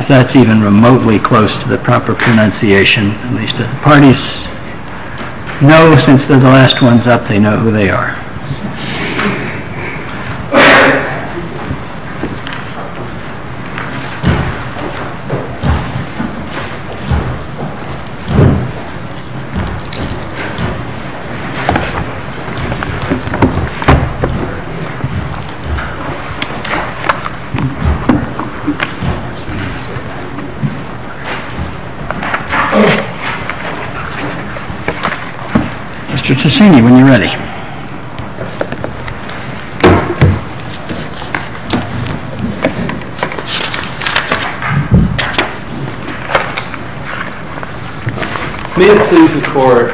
If that's even remotely close to the proper pronunciation, at least the parties know since they're the last ones up they know who they are. Mr. Ticini, when you're ready. May it please the court,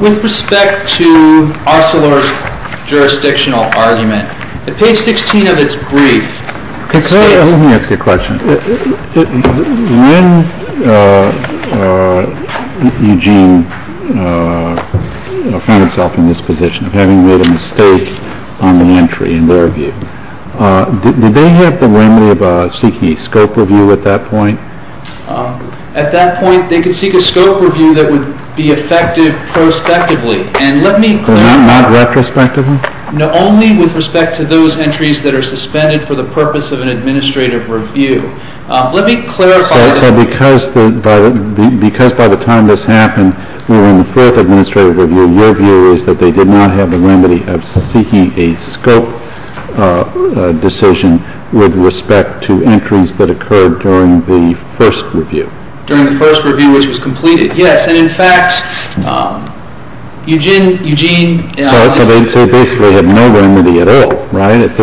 with respect to Arcelor's jurisdictional argument, at page 16 of its brief, it states When Eugene found himself in this position of having made a mistake on the entry, in their view, did they have the liberty of seeking a scope review at that point? At that point, they could seek a scope review that would be effective prospectively. Not retrospectively? No, only with respect to those entries that are suspended for the purpose of an administrative review. Let me clarify. So because by the time this happened, we were in the fourth administrative review, your view is that they did not have the liberty of seeking a scope decision with respect to entries that occurred during the first review? During the first review, which was completed, yes. And in fact, Eugene So they basically had no remedy at all, right? At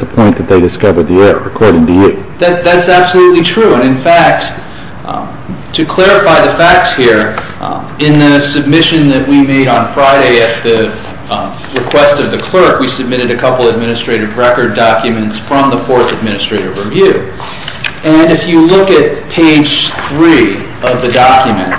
the point that they discovered the error, according to you. That's absolutely true. And in fact, to clarify the facts here, in the submission that we made on Friday at the request of the clerk, we submitted a couple administrative record documents from the fourth administrative review. And if you look at page 3 of the document,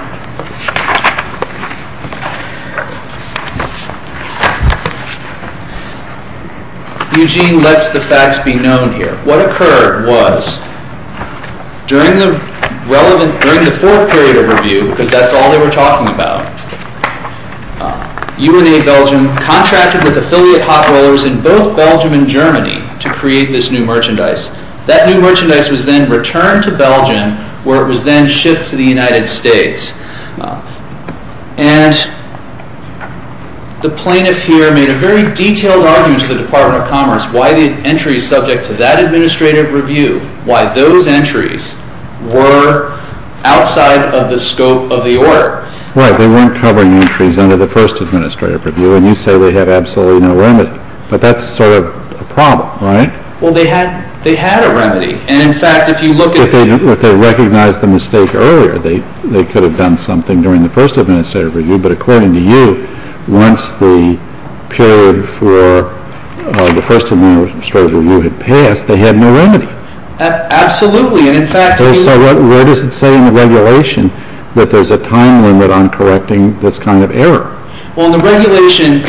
Eugene lets the facts be known here. What occurred was, during the fourth period of review, because that's all they were talking about, UNA Belgium contracted with affiliate hot rollers in both Belgium and Germany to create this new merchandise. That new merchandise was then returned to Belgium, where it was then shipped to the United States. And the plaintiff here made a very detailed argument to the Department of Commerce why the entries subject to that administrative review, why those entries were outside of the scope of the order. Right. They weren't covering entries under the first administrative review. And you say they have absolutely no limit. But that's sort of a problem, right? Well, they had a remedy. And in fact, if you look at the But they recognized the mistake earlier. They could have done something during the first administrative review. But according to you, once the period for the first administrative review had passed, they had no remedy. Absolutely. And in fact, So what does it say in the regulation that there's a time limit on correcting this kind of error? Well, in the regulation,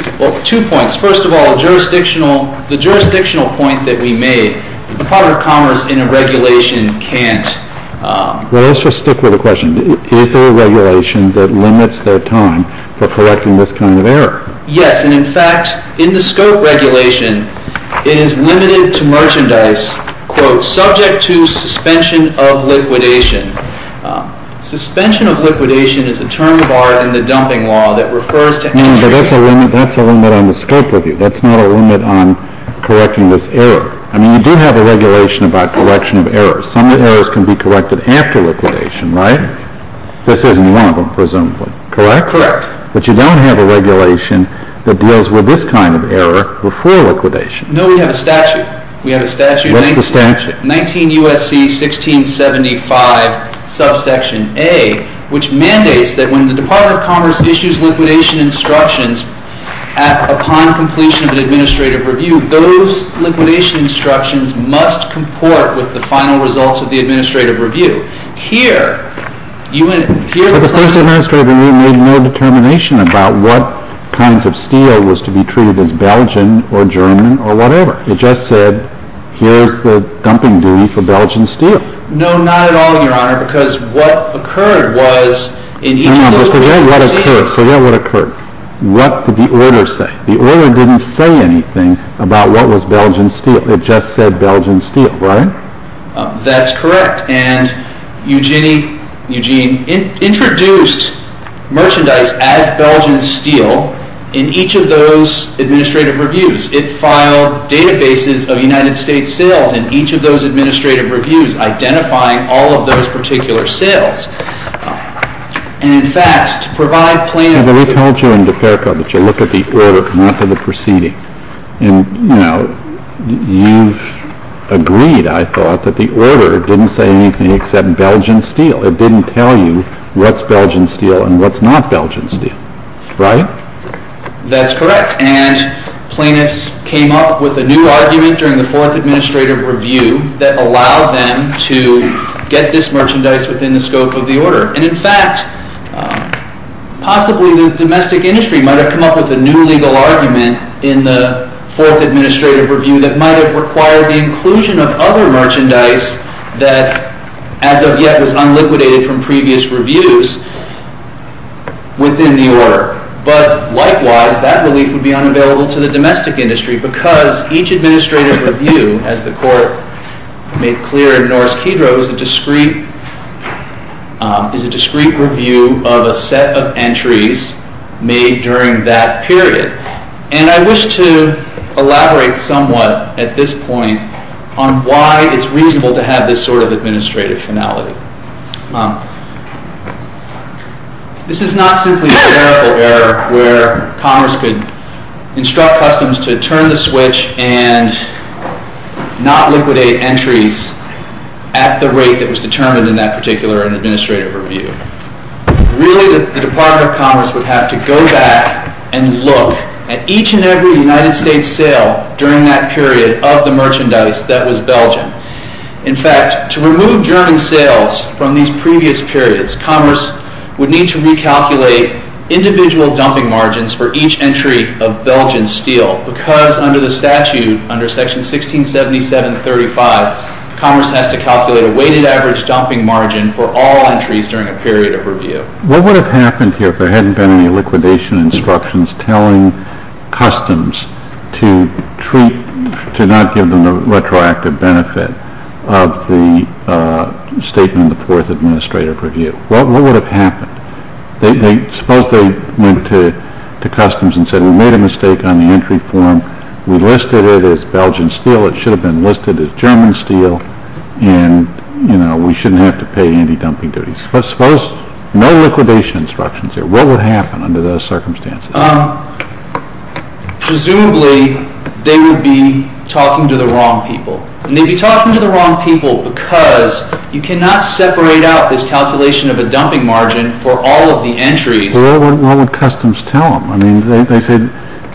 two points. First of all, the jurisdictional point that we made, the Department of Commerce in a regulation can't Well, let's just stick with the question. Is there a regulation that limits their time for correcting this kind of error? Yes. And in fact, in the scope regulation, it is limited to merchandise, quote, subject to suspension of liquidation. Suspension of liquidation is a term of art in the dumping law that refers to But that's a limit on the scope review. That's not a limit on correcting this error. I mean, you do have a regulation about correction of errors. Some of the errors can be corrected after liquidation, right? This isn't one of them, presumably. Correct? Correct. But you don't have a regulation that deals with this kind of error before liquidation. No, we have a statute. We have a statute. What's the statute? 19 U.S.C. 1675, subsection A, which mandates that when the Department of Commerce issues liquidation instructions upon completion of an administrative review, those liquidation instructions must comport with the final results of the administrative review. Here, you would The first administrative review made no determination about what kinds of steel was to be treated as Belgian or German or whatever. It just said, here's the dumping duty for Belgian steel. No, not at all, Your Honor, because what occurred was Hang on, forget what occurred. Forget what occurred. What did the order say? The order didn't say anything about what was Belgian steel. It just said Belgian steel, right? That's correct. And Eugene introduced merchandise as Belgian steel in each of those administrative reviews. It filed databases of United States sales in each of those administrative reviews, identifying all of those particular sales. And, in fact, to provide plaintiffs See, we told you in DeFerco that you look at the order, not at the proceeding. And, you know, you agreed, I thought, that the order didn't say anything except Belgian steel. It didn't tell you what's Belgian steel and what's not Belgian steel. Right? That's correct. And plaintiffs came up with a new argument during the Fourth Administrative Review that allowed them to get this merchandise within the scope of the order. And, in fact, possibly the domestic industry might have come up with a new legal argument in the Fourth Administrative Review that might have required the inclusion of other merchandise that, as of yet, was unliquidated from previous reviews within the order. But, likewise, that relief would be unavailable to the domestic industry because each administrative review, as the Court made clear in Norris-Kedrow, is a discrete review of a set of entries made during that period. And I wish to elaborate somewhat at this point on why it's reasonable to have this sort of administrative finality. This is not simply a clerical error where Commerce could instruct Customs to turn the switch and not liquidate entries at the rate that was determined in that particular administrative review. Really, the Department of Commerce would have to go back and look at each and every United States sale during that period of the merchandise that was Belgian. In fact, to remove German sales from these previous periods, Commerce would need to recalculate individual dumping margins for each entry of Belgian steel because under the statute, under Section 1677.35, Commerce has to calculate a weighted average dumping margin for all entries during a period of review. What would have happened here if there hadn't been any liquidation instructions telling Customs to not give them the retroactive benefit of the statement in the fourth administrative review? What would have happened? Suppose they went to Customs and said, We made a mistake on the entry form. We listed it as Belgian steel. It should have been listed as German steel, and we shouldn't have to pay any dumping duties. Suppose no liquidation instructions there. What would happen under those circumstances? Presumably, they would be talking to the wrong people. They'd be talking to the wrong people because you cannot separate out this calculation of a dumping margin for all of the entries. What would Customs tell them? They said,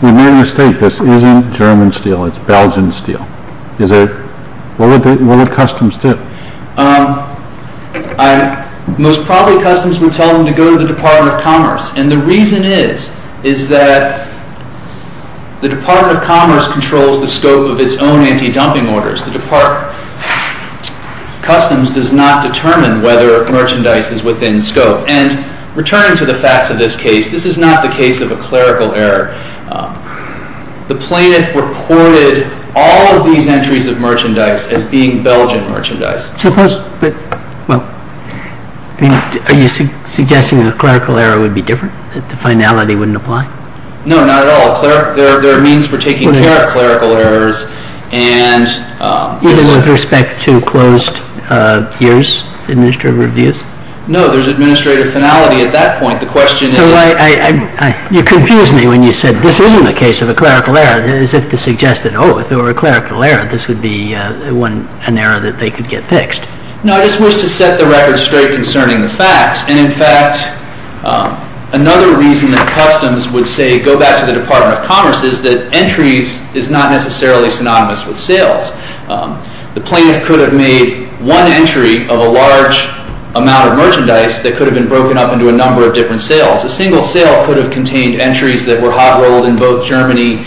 We made a mistake. This isn't German steel. It's Belgian steel. What would Customs do? Most probably, Customs would tell them to go to the Department of Commerce. And the reason is that the Department of Commerce controls the scope of its own anti-dumping orders. The Department of Customs does not determine whether merchandise is within scope. And returning to the facts of this case, this is not the case of a clerical error. The plaintiff reported all of these entries of merchandise as being Belgian merchandise. Are you suggesting a clerical error would be different, that the finality wouldn't apply? No, not at all. There are means for taking care of clerical errors. Even with respect to closed years administrative reviews? No, there's administrative finality at that point. You confused me when you said, This isn't the case of a clerical error. As if to suggest that, Oh, if there were a clerical error, this would be an error that they could get fixed. No, I just wish to set the record straight concerning the facts. And, in fact, another reason that Customs would say, Go back to the Department of Commerce, is that entries is not necessarily synonymous with sales. The plaintiff could have made one entry of a large amount of merchandise that could have been broken up into a number of different sales. A single sale could have contained entries that were hot-rolled in both Germany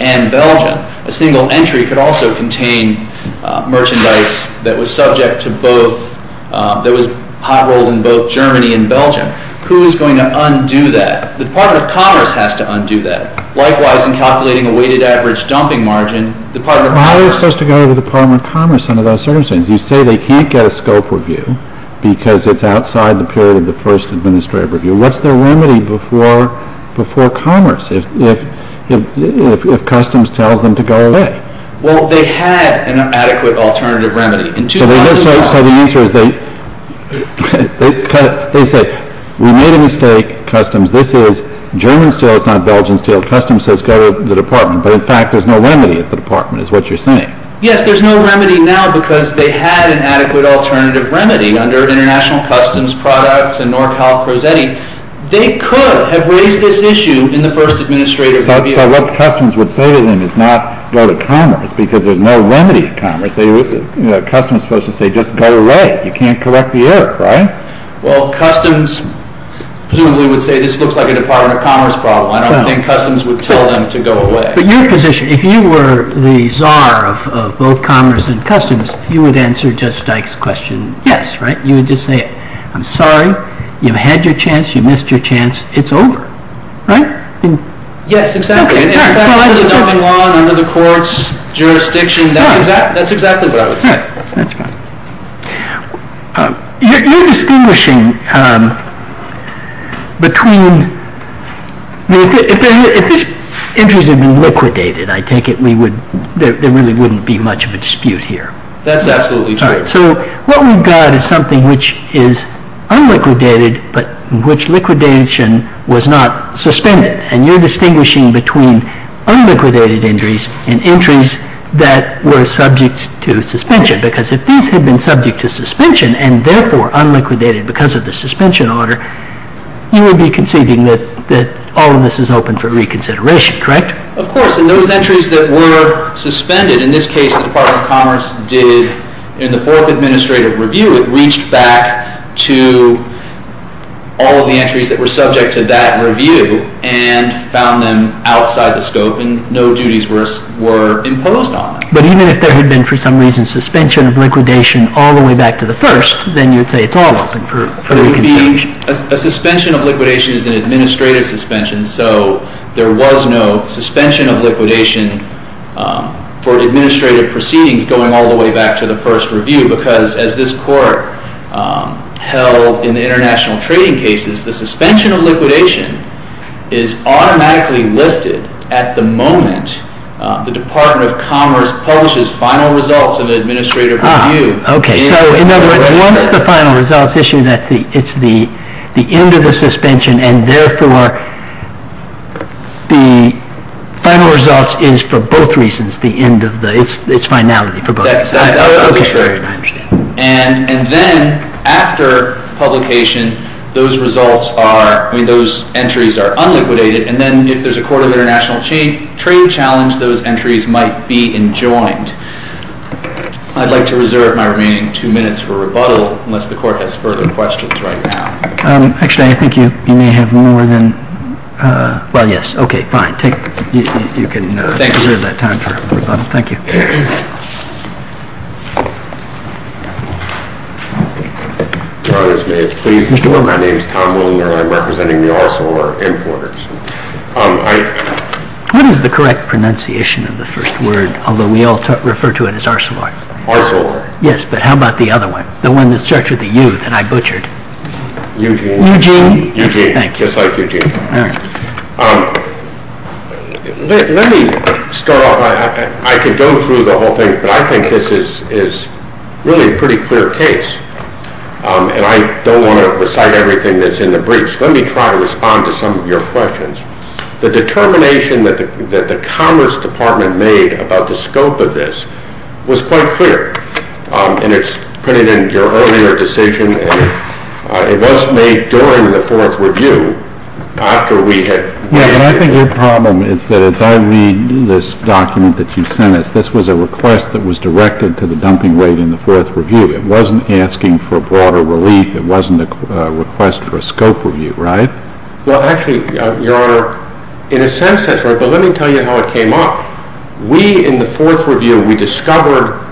and Belgium. A single entry could also contain merchandise that was subject to both, that was hot-rolled in both Germany and Belgium. Who is going to undo that? The Department of Commerce has to undo that. Likewise, in calculating a weighted average dumping margin, the Department of Commerce How are they supposed to go to the Department of Commerce under those circumstances? You say they can't get a scope review because it's outside the period of the first administrative review. What's their remedy before Commerce, if Customs tells them to go away? Well, they had an adequate alternative remedy. So the answer is they say, We made a mistake, Customs. This is German steel, it's not Belgian steel. Customs says go to the Department. But, in fact, there's no remedy at the Department, is what you're saying. Yes, there's no remedy now because they had an adequate alternative remedy under International Customs Products and NorCal-Prosetti. They could have raised this issue in the first administrative review. So what Customs would say to them is not go to Commerce because there's no remedy in Commerce. Customs is supposed to say just go away. You can't correct the error, right? Well, Customs presumably would say this looks like a Department of Commerce problem. I don't think Customs would tell them to go away. But your position, if you were the czar of both Commerce and Customs, you would answer Judge Dyke's question yes, right? You would just say, I'm sorry, you've had your chance, you missed your chance, it's over, right? Yes, exactly. In fact, under the dumping law and under the court's jurisdiction, that's exactly what I would say. That's right. You're distinguishing between, if these entries had been liquidated, I take it there really wouldn't be much of a dispute here. That's absolutely true. So what we've got is something which is unliquidated but in which liquidation was not suspended. And you're distinguishing between unliquidated entries and entries that were subject to suspension. Because if these had been subject to suspension and therefore unliquidated because of the suspension order, you would be conceiving that all of this is open for reconsideration, correct? Of course. And those entries that were suspended, in this case the Department of Commerce did, in the fourth administrative review, it reached back to all of the entries that were subject to that review and found them outside the scope and no duties were imposed on them. But even if there had been, for some reason, suspension of liquidation all the way back to the first, then you'd say it's all open for reconsideration. A suspension of liquidation is an administrative suspension, so there was no suspension of liquidation for administrative proceedings going all the way back to the first review. Because as this Court held in the international trading cases, the suspension of liquidation is automatically lifted at the moment the Department of Commerce publishes final results in an administrative review. Okay. So, in other words, once the final results issue, it's the end of the suspension, and therefore the final results is for both reasons the end of the, it's finality for both reasons. That's absolutely correct. I understand. And then after publication, those results are, I mean, those entries are unliquidated, and then if there's a court of international trade challenge, those entries might be enjoined. I'd like to reserve my remaining two minutes for rebuttal unless the Court has further questions right now. Actually, I think you may have more than, well, yes, okay, fine. You can reserve that time for rebuttal. Thank you. Your Honors, may it please the Court. My name is Tom Willinger. I'm representing the Arcelor importers. What is the correct pronunciation of the first word, although we all refer to it as Arcelor? Arcelor. Yes, but how about the other one, the one that starts with a U that I butchered? Eugene. Eugene. Eugene, just like Eugene. All right. Let me start off. I could go through the whole thing, but I think this is really a pretty clear case, and I don't want to recite everything that's in the briefs. Let me try to respond to some of your questions. The determination that the Commerce Department made about the scope of this was quite clear, and it's printed in your earlier decision. It was made during the fourth review after we had. Yes, but I think your problem is that as I read this document that you sent us, this was a request that was directed to the dumping rate in the fourth review. It wasn't asking for broader relief. It wasn't a request for a scope review, right? Well, actually, Your Honor, in a sense that's right, but let me tell you how it came up. We, in the fourth review, we discovered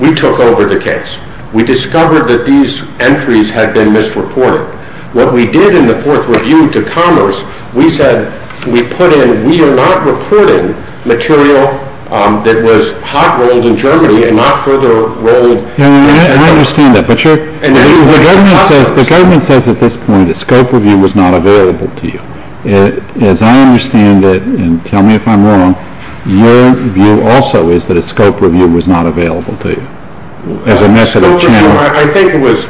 we took over the case. We discovered that these entries had been misreported. What we did in the fourth review to Commerce, we said we put in, we are not reporting material that was hot-rolled in Germany and not further rolled. Your Honor, I understand that, but the government says at this point a scope review was not available to you. As I understand it, and tell me if I'm wrong, your view also is that a scope review was not available to you as a method of channeling. A scope review, I think it was,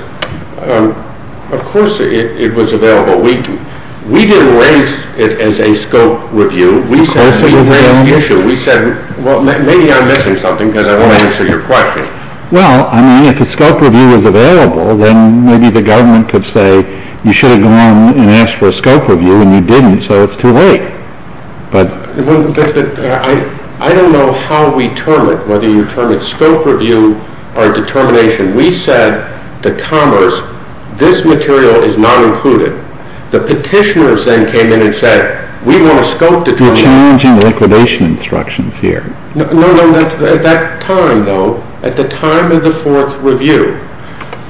of course it was available. We didn't raise it as a scope review. Of course it was available. We said, well, maybe I'm missing something because I don't answer your question. Well, I mean, if a scope review was available, then maybe the government could say you should have gone and asked for a scope review, and you didn't, so it's too late. I don't know how we term it, whether you term it scope review or determination. We said to Commerce, this material is not included. The petitioners then came in and said, we want a scope determination. You're challenging liquidation instructions here. No, no, at that time, though, at the time of the fourth review,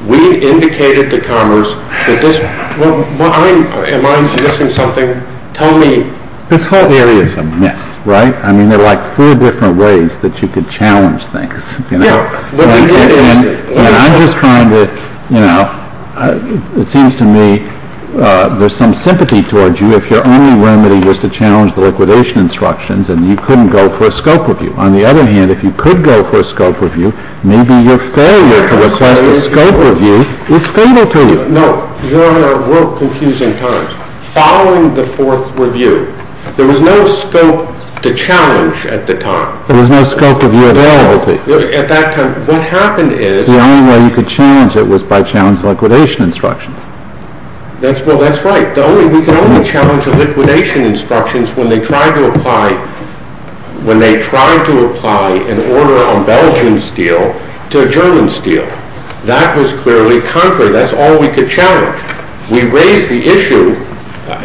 we indicated to Commerce that this, Well, am I missing something? Tell me. This whole area is a mess, right? I mean, there are like four different ways that you could challenge things. Yeah, but we did it. I'm just trying to, you know, it seems to me there's some sympathy towards you if your only remedy was to challenge the liquidation instructions, and you couldn't go for a scope review. On the other hand, if you could go for a scope review, maybe your failure to request a scope review is fatal to you. No, Your Honor, we're confusing times. Following the fourth review, there was no scope to challenge at the time. There was no scope to view availability. At that time, what happened is, The only way you could challenge it was by challenge liquidation instructions. Well, that's right. We could only challenge the liquidation instructions when they tried to apply, when they tried to apply an order on Belgian steel to German steel. That was clearly conquered. That's all we could challenge. We raised the issue,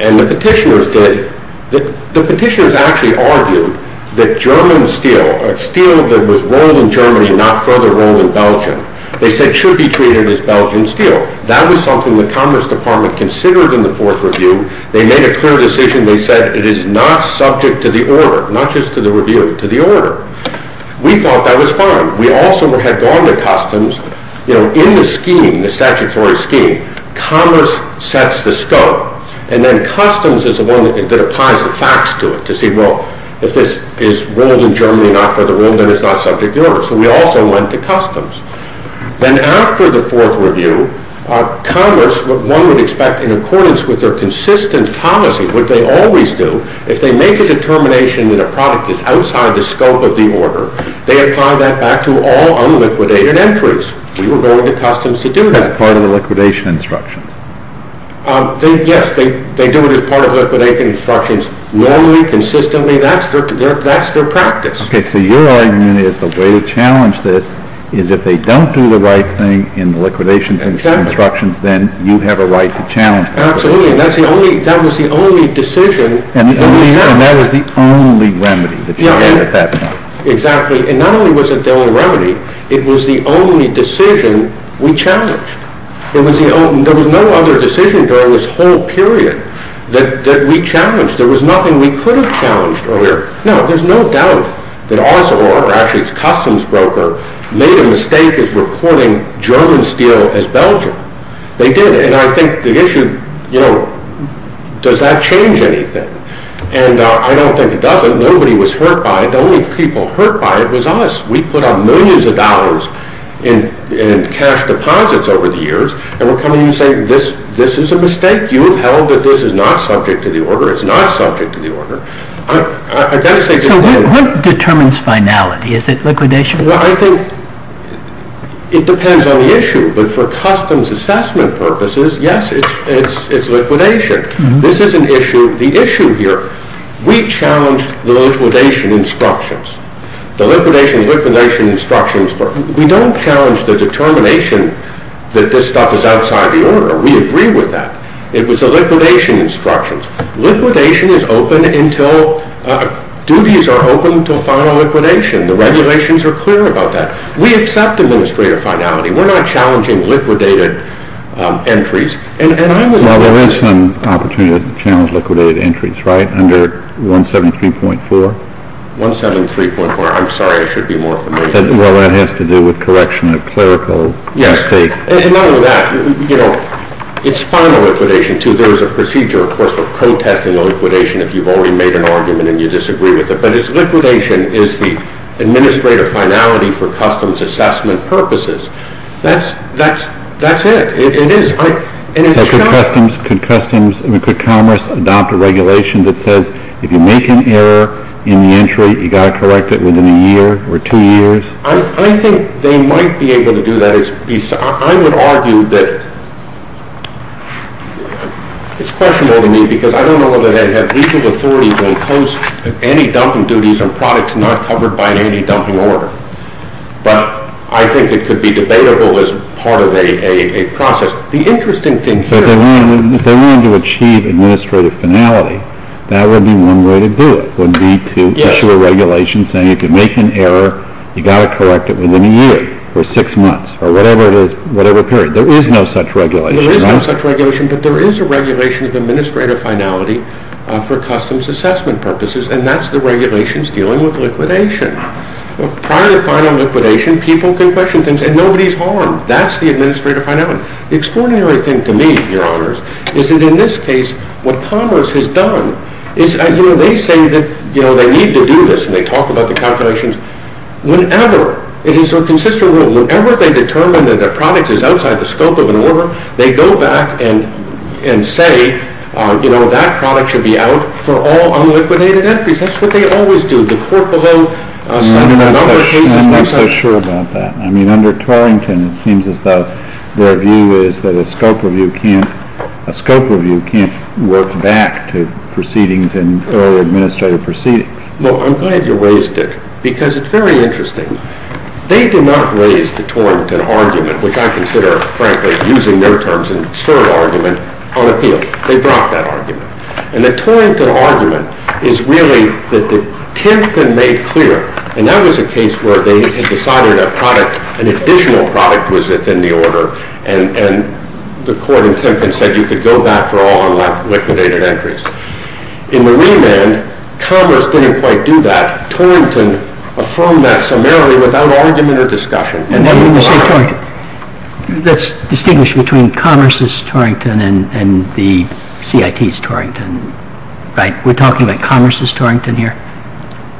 and the petitioners did. The petitioners actually argued that German steel, steel that was rolled in Germany and not further rolled in Belgium, they said should be treated as Belgian steel. That was something the Commerce Department considered in the fourth review. They made a clear decision. They said it is not subject to the order, not just to the review, to the order. We thought that was fine. We also had gone to Customs. In the scheme, the statutory scheme, Commerce sets the scope, and then Customs is the one that applies the facts to it, to see, well, if this is rolled in Germany and not further rolled, then it's not subject to the order. So we also went to Customs. Then after the fourth review, Commerce, what one would expect in accordance with their consistent policy, what they always do, if they make a determination that a product is outside the scope of the order, they apply that back to all unliquidated entries. We were going to Customs to do that. That's part of the liquidation instructions. Yes, they do it as part of liquidation instructions. Normally, consistently, that's their practice. Okay, so your argument is the way to challenge this is if they don't do the right thing in the liquidation instructions, then you have a right to challenge that. Absolutely, and that was the only decision. And that was the only remedy that you had at that time. Exactly, and not only was it the only remedy, it was the only decision we challenged. There was no other decision during this whole period that we challenged. There was nothing we could have challenged earlier. No, there's no doubt that Arcelor, or actually it's Customs Broker, made a mistake in reporting German steel as Belgian. They did, and I think the issue, you know, does that change anything? And I don't think it does. Nobody was hurt by it. The only people hurt by it was us. We put up millions of dollars in cash deposits over the years, and we're coming in and saying this is a mistake. You have held that this is not subject to the order. It's not subject to the order. So what determines finality? Is it liquidation? Well, I think it depends on the issue, but for Customs assessment purposes, yes, it's liquidation. This is an issue. The issue here, we challenged the liquidation instructions. The liquidation, liquidation instructions, we don't challenge the determination that this stuff is outside the order. We agree with that. It was the liquidation instructions. Liquidation is open until duties are open until final liquidation. The regulations are clear about that. We accept administrative finality. We're not challenging liquidated entries. Well, there is some opportunity to challenge liquidated entries, right, under 173.4? 173.4. I'm sorry. I should be more familiar. Well, that has to do with correction of clerical mistake. Yes. And not only that, you know, it's final liquidation, too. There is a procedure, of course, for protesting a liquidation if you've already made an argument and you disagree with it. But it's liquidation is the administrative finality for Customs assessment purposes. That's it. It is. Could Commerce adopt a regulation that says if you make an error in the entry, you've got to correct it within a year or two years? I think they might be able to do that. I would argue that it's questionable to me because I don't know whether they have legal authority to impose anti-dumping duties on products not covered by an anti-dumping order. But I think it could be debatable as part of a process. The interesting thing here is that if they wanted to achieve administrative finality, that would be one way to do it, would be to issue a regulation saying you can make an error, you've got to correct it within a year or six months or whatever it is, whatever period. There is no such regulation. There is no such regulation, but there is a regulation of administrative finality for Customs assessment purposes, and that's the regulations dealing with liquidation. Prior to final liquidation, people can question things and nobody is harmed. That's the administrative finality. The extraordinary thing to me, Your Honors, is that in this case what Commerce has done is, you know, they say that they need to do this and they talk about the calculations. Whenever it is a consistent rule, whenever they determine that a product is outside the scope of an order, they go back and say, you know, that product should be out for all unliquidated entries. That's what they always do. I'm not so sure about that. I mean, under Torrington, it seems as though their view is that a scope review can't work back to proceedings and early administrative proceedings. No, I'm glad you raised it because it's very interesting. They did not raise the Torrington argument, which I consider, frankly, using their terms They dropped that argument. And the Torrington argument is really that Timpkin made clear, and that was a case where they had decided an additional product was within the order and the court in Timpkin said you could go back for all unliquidated entries. In the remand, Commerce didn't quite do that. Torrington affirmed that summarily without argument or discussion. Let's distinguish between Commerce's Torrington and the CIT's Torrington, right? We're talking about Commerce's Torrington here?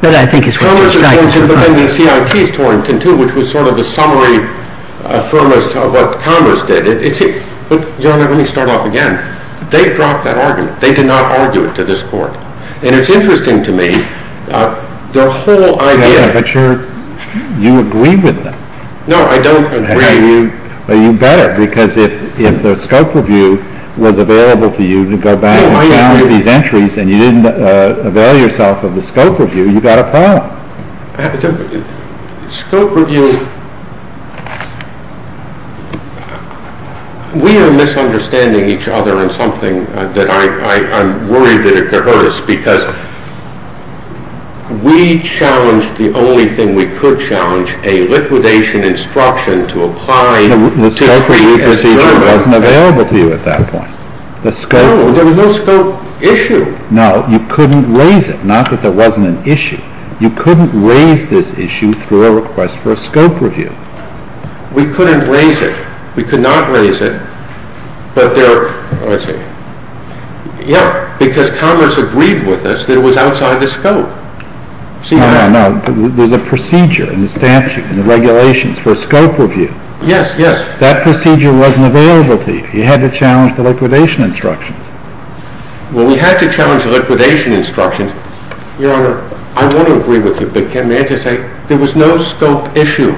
Commerce's Torrington, but then the CIT's Torrington too, which was sort of a summary affirmist of what Commerce did. But, Your Honor, let me start off again. They dropped that argument. They did not argue it to this court. And it's interesting to me, their whole idea Yeah, but you agree with them. No, I don't agree. You better, because if the scope review was available to you to go back and look at these entries and you didn't avail yourself of the scope review, you got a problem. Scope review... We are misunderstanding each other in something that I'm worried that it could hurt us because we challenged the only thing we could challenge, a liquidation instruction to apply... The scope review procedure wasn't available to you at that point. No, there was no scope issue. No, you couldn't raise it. Not that there wasn't an issue. You couldn't raise this issue through a request for a scope review. We couldn't raise it. We could not raise it, but there... Yeah, because Congress agreed with us that it was outside the scope. No, no, no. There's a procedure in the statute, in the regulations for scope review. Yes, yes. That procedure wasn't available to you. You had to challenge the liquidation instructions. Well, we had to challenge the liquidation instructions. Your Honor, I want to agree with you, but can I just say there was no scope issue.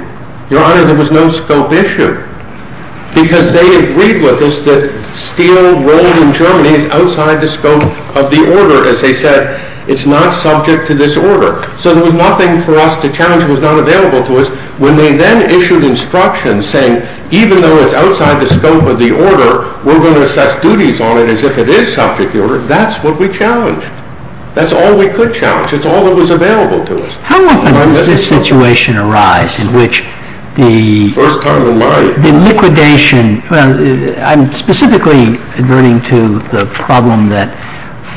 Your Honor, there was no scope issue. Because they agreed with us that steel rolled in Germany is outside the scope of the order. As they said, it's not subject to this order. So there was nothing for us to challenge that was not available to us. When they then issued instructions saying, even though it's outside the scope of the order, we're going to assess duties on it as if it is subject to the order, that's what we challenged. That's all we could challenge. It's all that was available to us. How often does this situation arise in which the... The liquidation... I'm specifically adverting to the problem that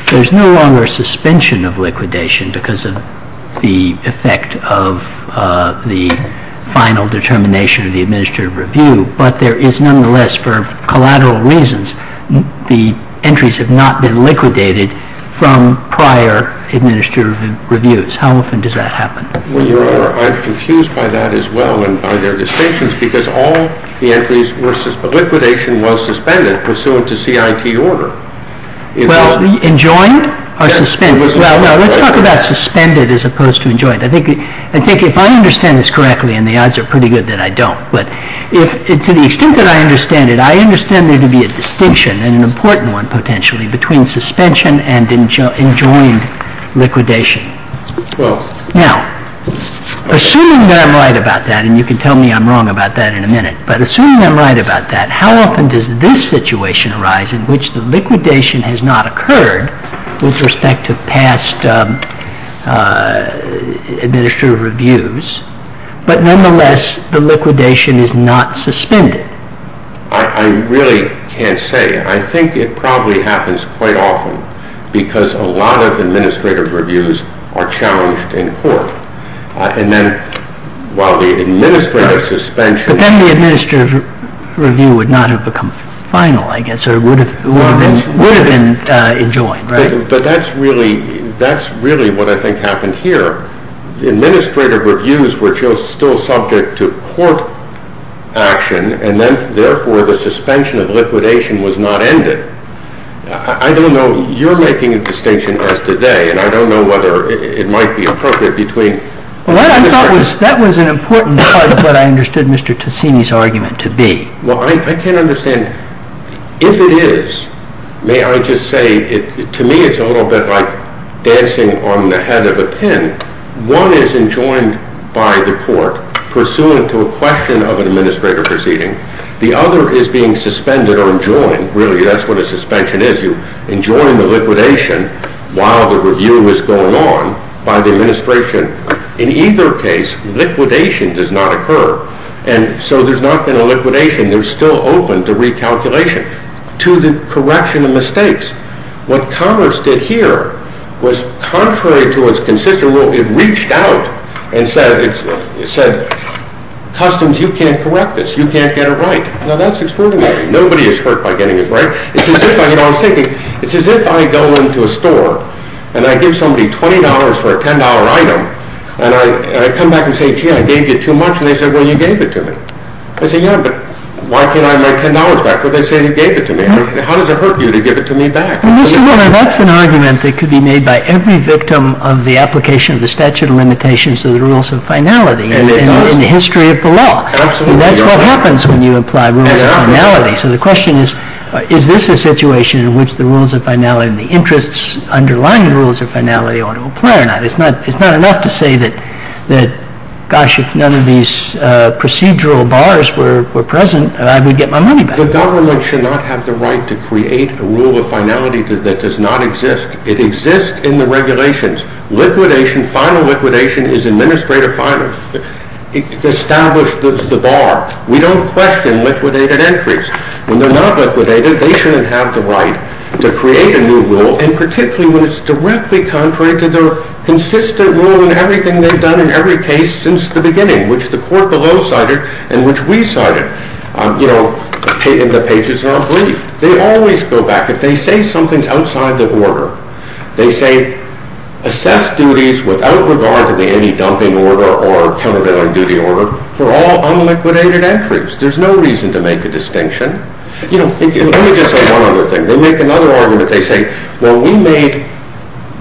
there's no longer a suspension of liquidation because of the effect of the final determination of the administrative review, but there is nonetheless, for collateral reasons, the entries have not been liquidated from prior administrative reviews. How often does that happen? Well, Your Honor, I'm confused by that as well and by their distinctions because all the entries were... liquidation was suspended pursuant to CIT order. Well, enjoined or suspended? Well, let's talk about suspended as opposed to enjoined. I think if I understand this correctly, and the odds are pretty good that I don't, but to the extent that I understand it, I understand there to be a distinction, and an important one potentially, between suspension and enjoined liquidation. Now, assuming that I'm right about that, and you can tell me I'm wrong about that in a minute, but assuming I'm right about that, how often does this situation arise in which the liquidation has not occurred with respect to past administrative reviews, but nonetheless the liquidation is not suspended? I really can't say. I think it probably happens quite often because a lot of administrative reviews are challenged in court, and then while the administrative suspension... But then the administrative review would not have become final, I guess, or would have been enjoined, right? But that's really what I think happened here. Administrative reviews were still subject to court action, and then therefore the suspension of liquidation was not ended. I don't know. You're making a distinction as today, and I don't know whether it might be appropriate between... Well, that was an important part of what I understood Mr. Tessini's argument to be. Well, I can't understand. If it is, may I just say, to me it's a little bit like dancing on the head of a pin. One is enjoined by the court pursuant to a question of an administrative proceeding. The other is being suspended or enjoined. Really, that's what a suspension is. You enjoin the liquidation while the review is going on by the administration. In either case, liquidation does not occur, and so there's not been a liquidation. There's still open to recalculation to the correction of mistakes. What Congress did here was contrary to its consistent rule. It reached out and said, Customs, you can't correct this. You can't get it right. Now, that's extraordinary. Nobody is hurt by getting it right. It's as if I go into a store and I give somebody $20 for a $10 item, and I come back and say, gee, I gave you too much, and they say, well, you gave it to me. I say, yeah, but why can't I have my $10 back? Well, they say you gave it to me. How does it hurt you to give it to me back? That's an argument that could be made by every victim of the application of the statute of limitations to the rules of finality. And it does. In the history of the law. Absolutely. That's what happens when you apply rules of finality. So the question is, is this a situation in which the rules of finality and the interests underlying the rules of finality ought to apply or not? It's not enough to say that, gosh, if none of these procedural bars were present, I would get my money back. The government should not have the right to create a rule of finality that does not exist. It exists in the regulations. Liquidation, final liquidation is administrative final. It establishes the bar. We don't question liquidated entries. When they're not liquidated, they shouldn't have the right to create a new rule, and particularly when it's directly contrary to the consistent rule in everything they've done in every case since the beginning, which the court below cited and which we cited, you know, in the pages in our brief. They always go back. If they say something's outside the order, they say assess duties without regard to the any dumping order or countervailing duty order for all unliquidated entries. There's no reason to make a distinction. You know, let me just say one other thing. They make another argument. They say, well, we made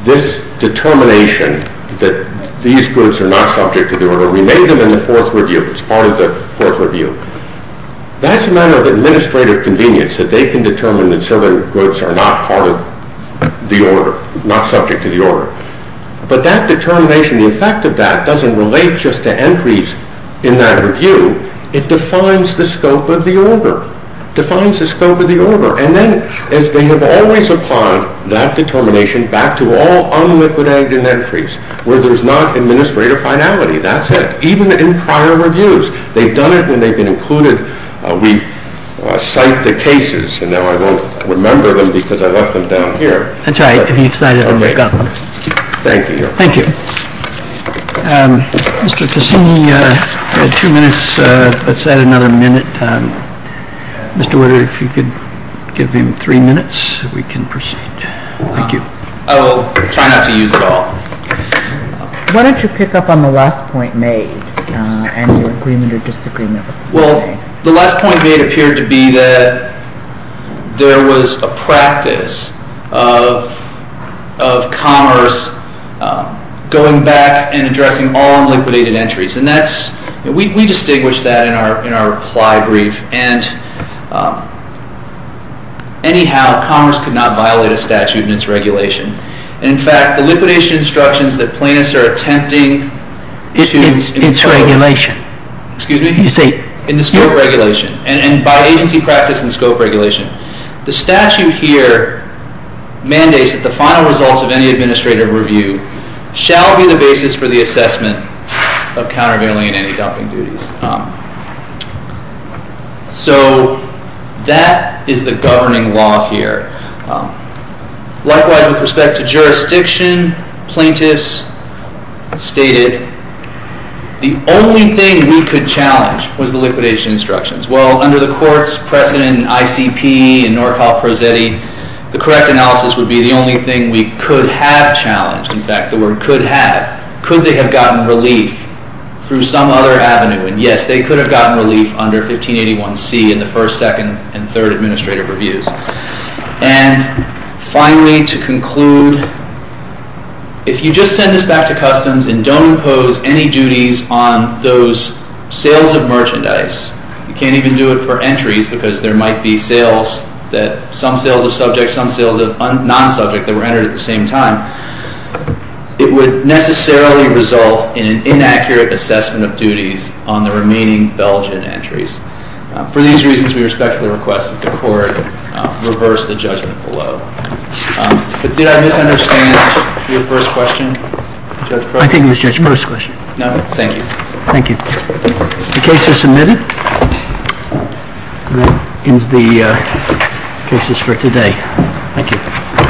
this determination that these goods are not subject to the order. We made them in the fourth review. It's part of the fourth review. That's a matter of administrative convenience that they can determine that certain goods are not part of the order, not subject to the order. But that determination, the effect of that doesn't relate just to entries in that review. It defines the scope of the order, defines the scope of the order. And then as they have always applied that determination back to all unliquidated entries where there's not administrative finality, that's it. Even in prior reviews. They've done it and they've been included. We cite the cases, and now I won't remember them because I left them down here. That's all right. I'll be excited when we've got them. Thank you, Your Honor. Thank you. Mr. Cassini, you had two minutes. Let's add another minute. Mr. Woodard, if you could give him three minutes, we can proceed. Thank you. I will try not to use it all. Why don't you pick up on the last point made and your agreement or disagreement? Well, the last point made appeared to be that there was a practice of commerce going back and addressing all unliquidated entries. And we distinguished that in our reply brief. And anyhow, commerce could not violate a statute and its regulation. And, in fact, the liquidation instructions that plaintiffs are attempting to It's regulation. Excuse me? You see In the scope regulation and by agency practice and scope regulation. The statute here mandates that the final results of any administrative review shall be the basis for the assessment of countervailing and anti-dumping duties. So that is the governing law here. Likewise, with respect to jurisdiction, plaintiffs stated the only thing we could challenge was the liquidation instructions. Well, under the court's precedent in ICP and Nordhoff-Prosetti, the correct analysis would be the only thing we could have challenged. In fact, the word could have. Could they have gotten relief through some other avenue? And, yes, they could have gotten relief under 1581C in the first, second, and third administrative reviews. And, finally, to conclude, if you just send this back to customs and don't impose any duties on those sales of merchandise. You can't even do it for entries because there might be sales that some sales of subject, some sales of non-subject that were entered at the same time. It would necessarily result in an inaccurate assessment of duties on the remaining Belgian entries. For these reasons, we respectfully request that the court reverse the judgment below. But did I misunderstand your first question, Judge Crosby? I think it was Judge Crosby's question. No? Thank you. Thank you. The case is submitted. And that ends the cases for today. Thank you.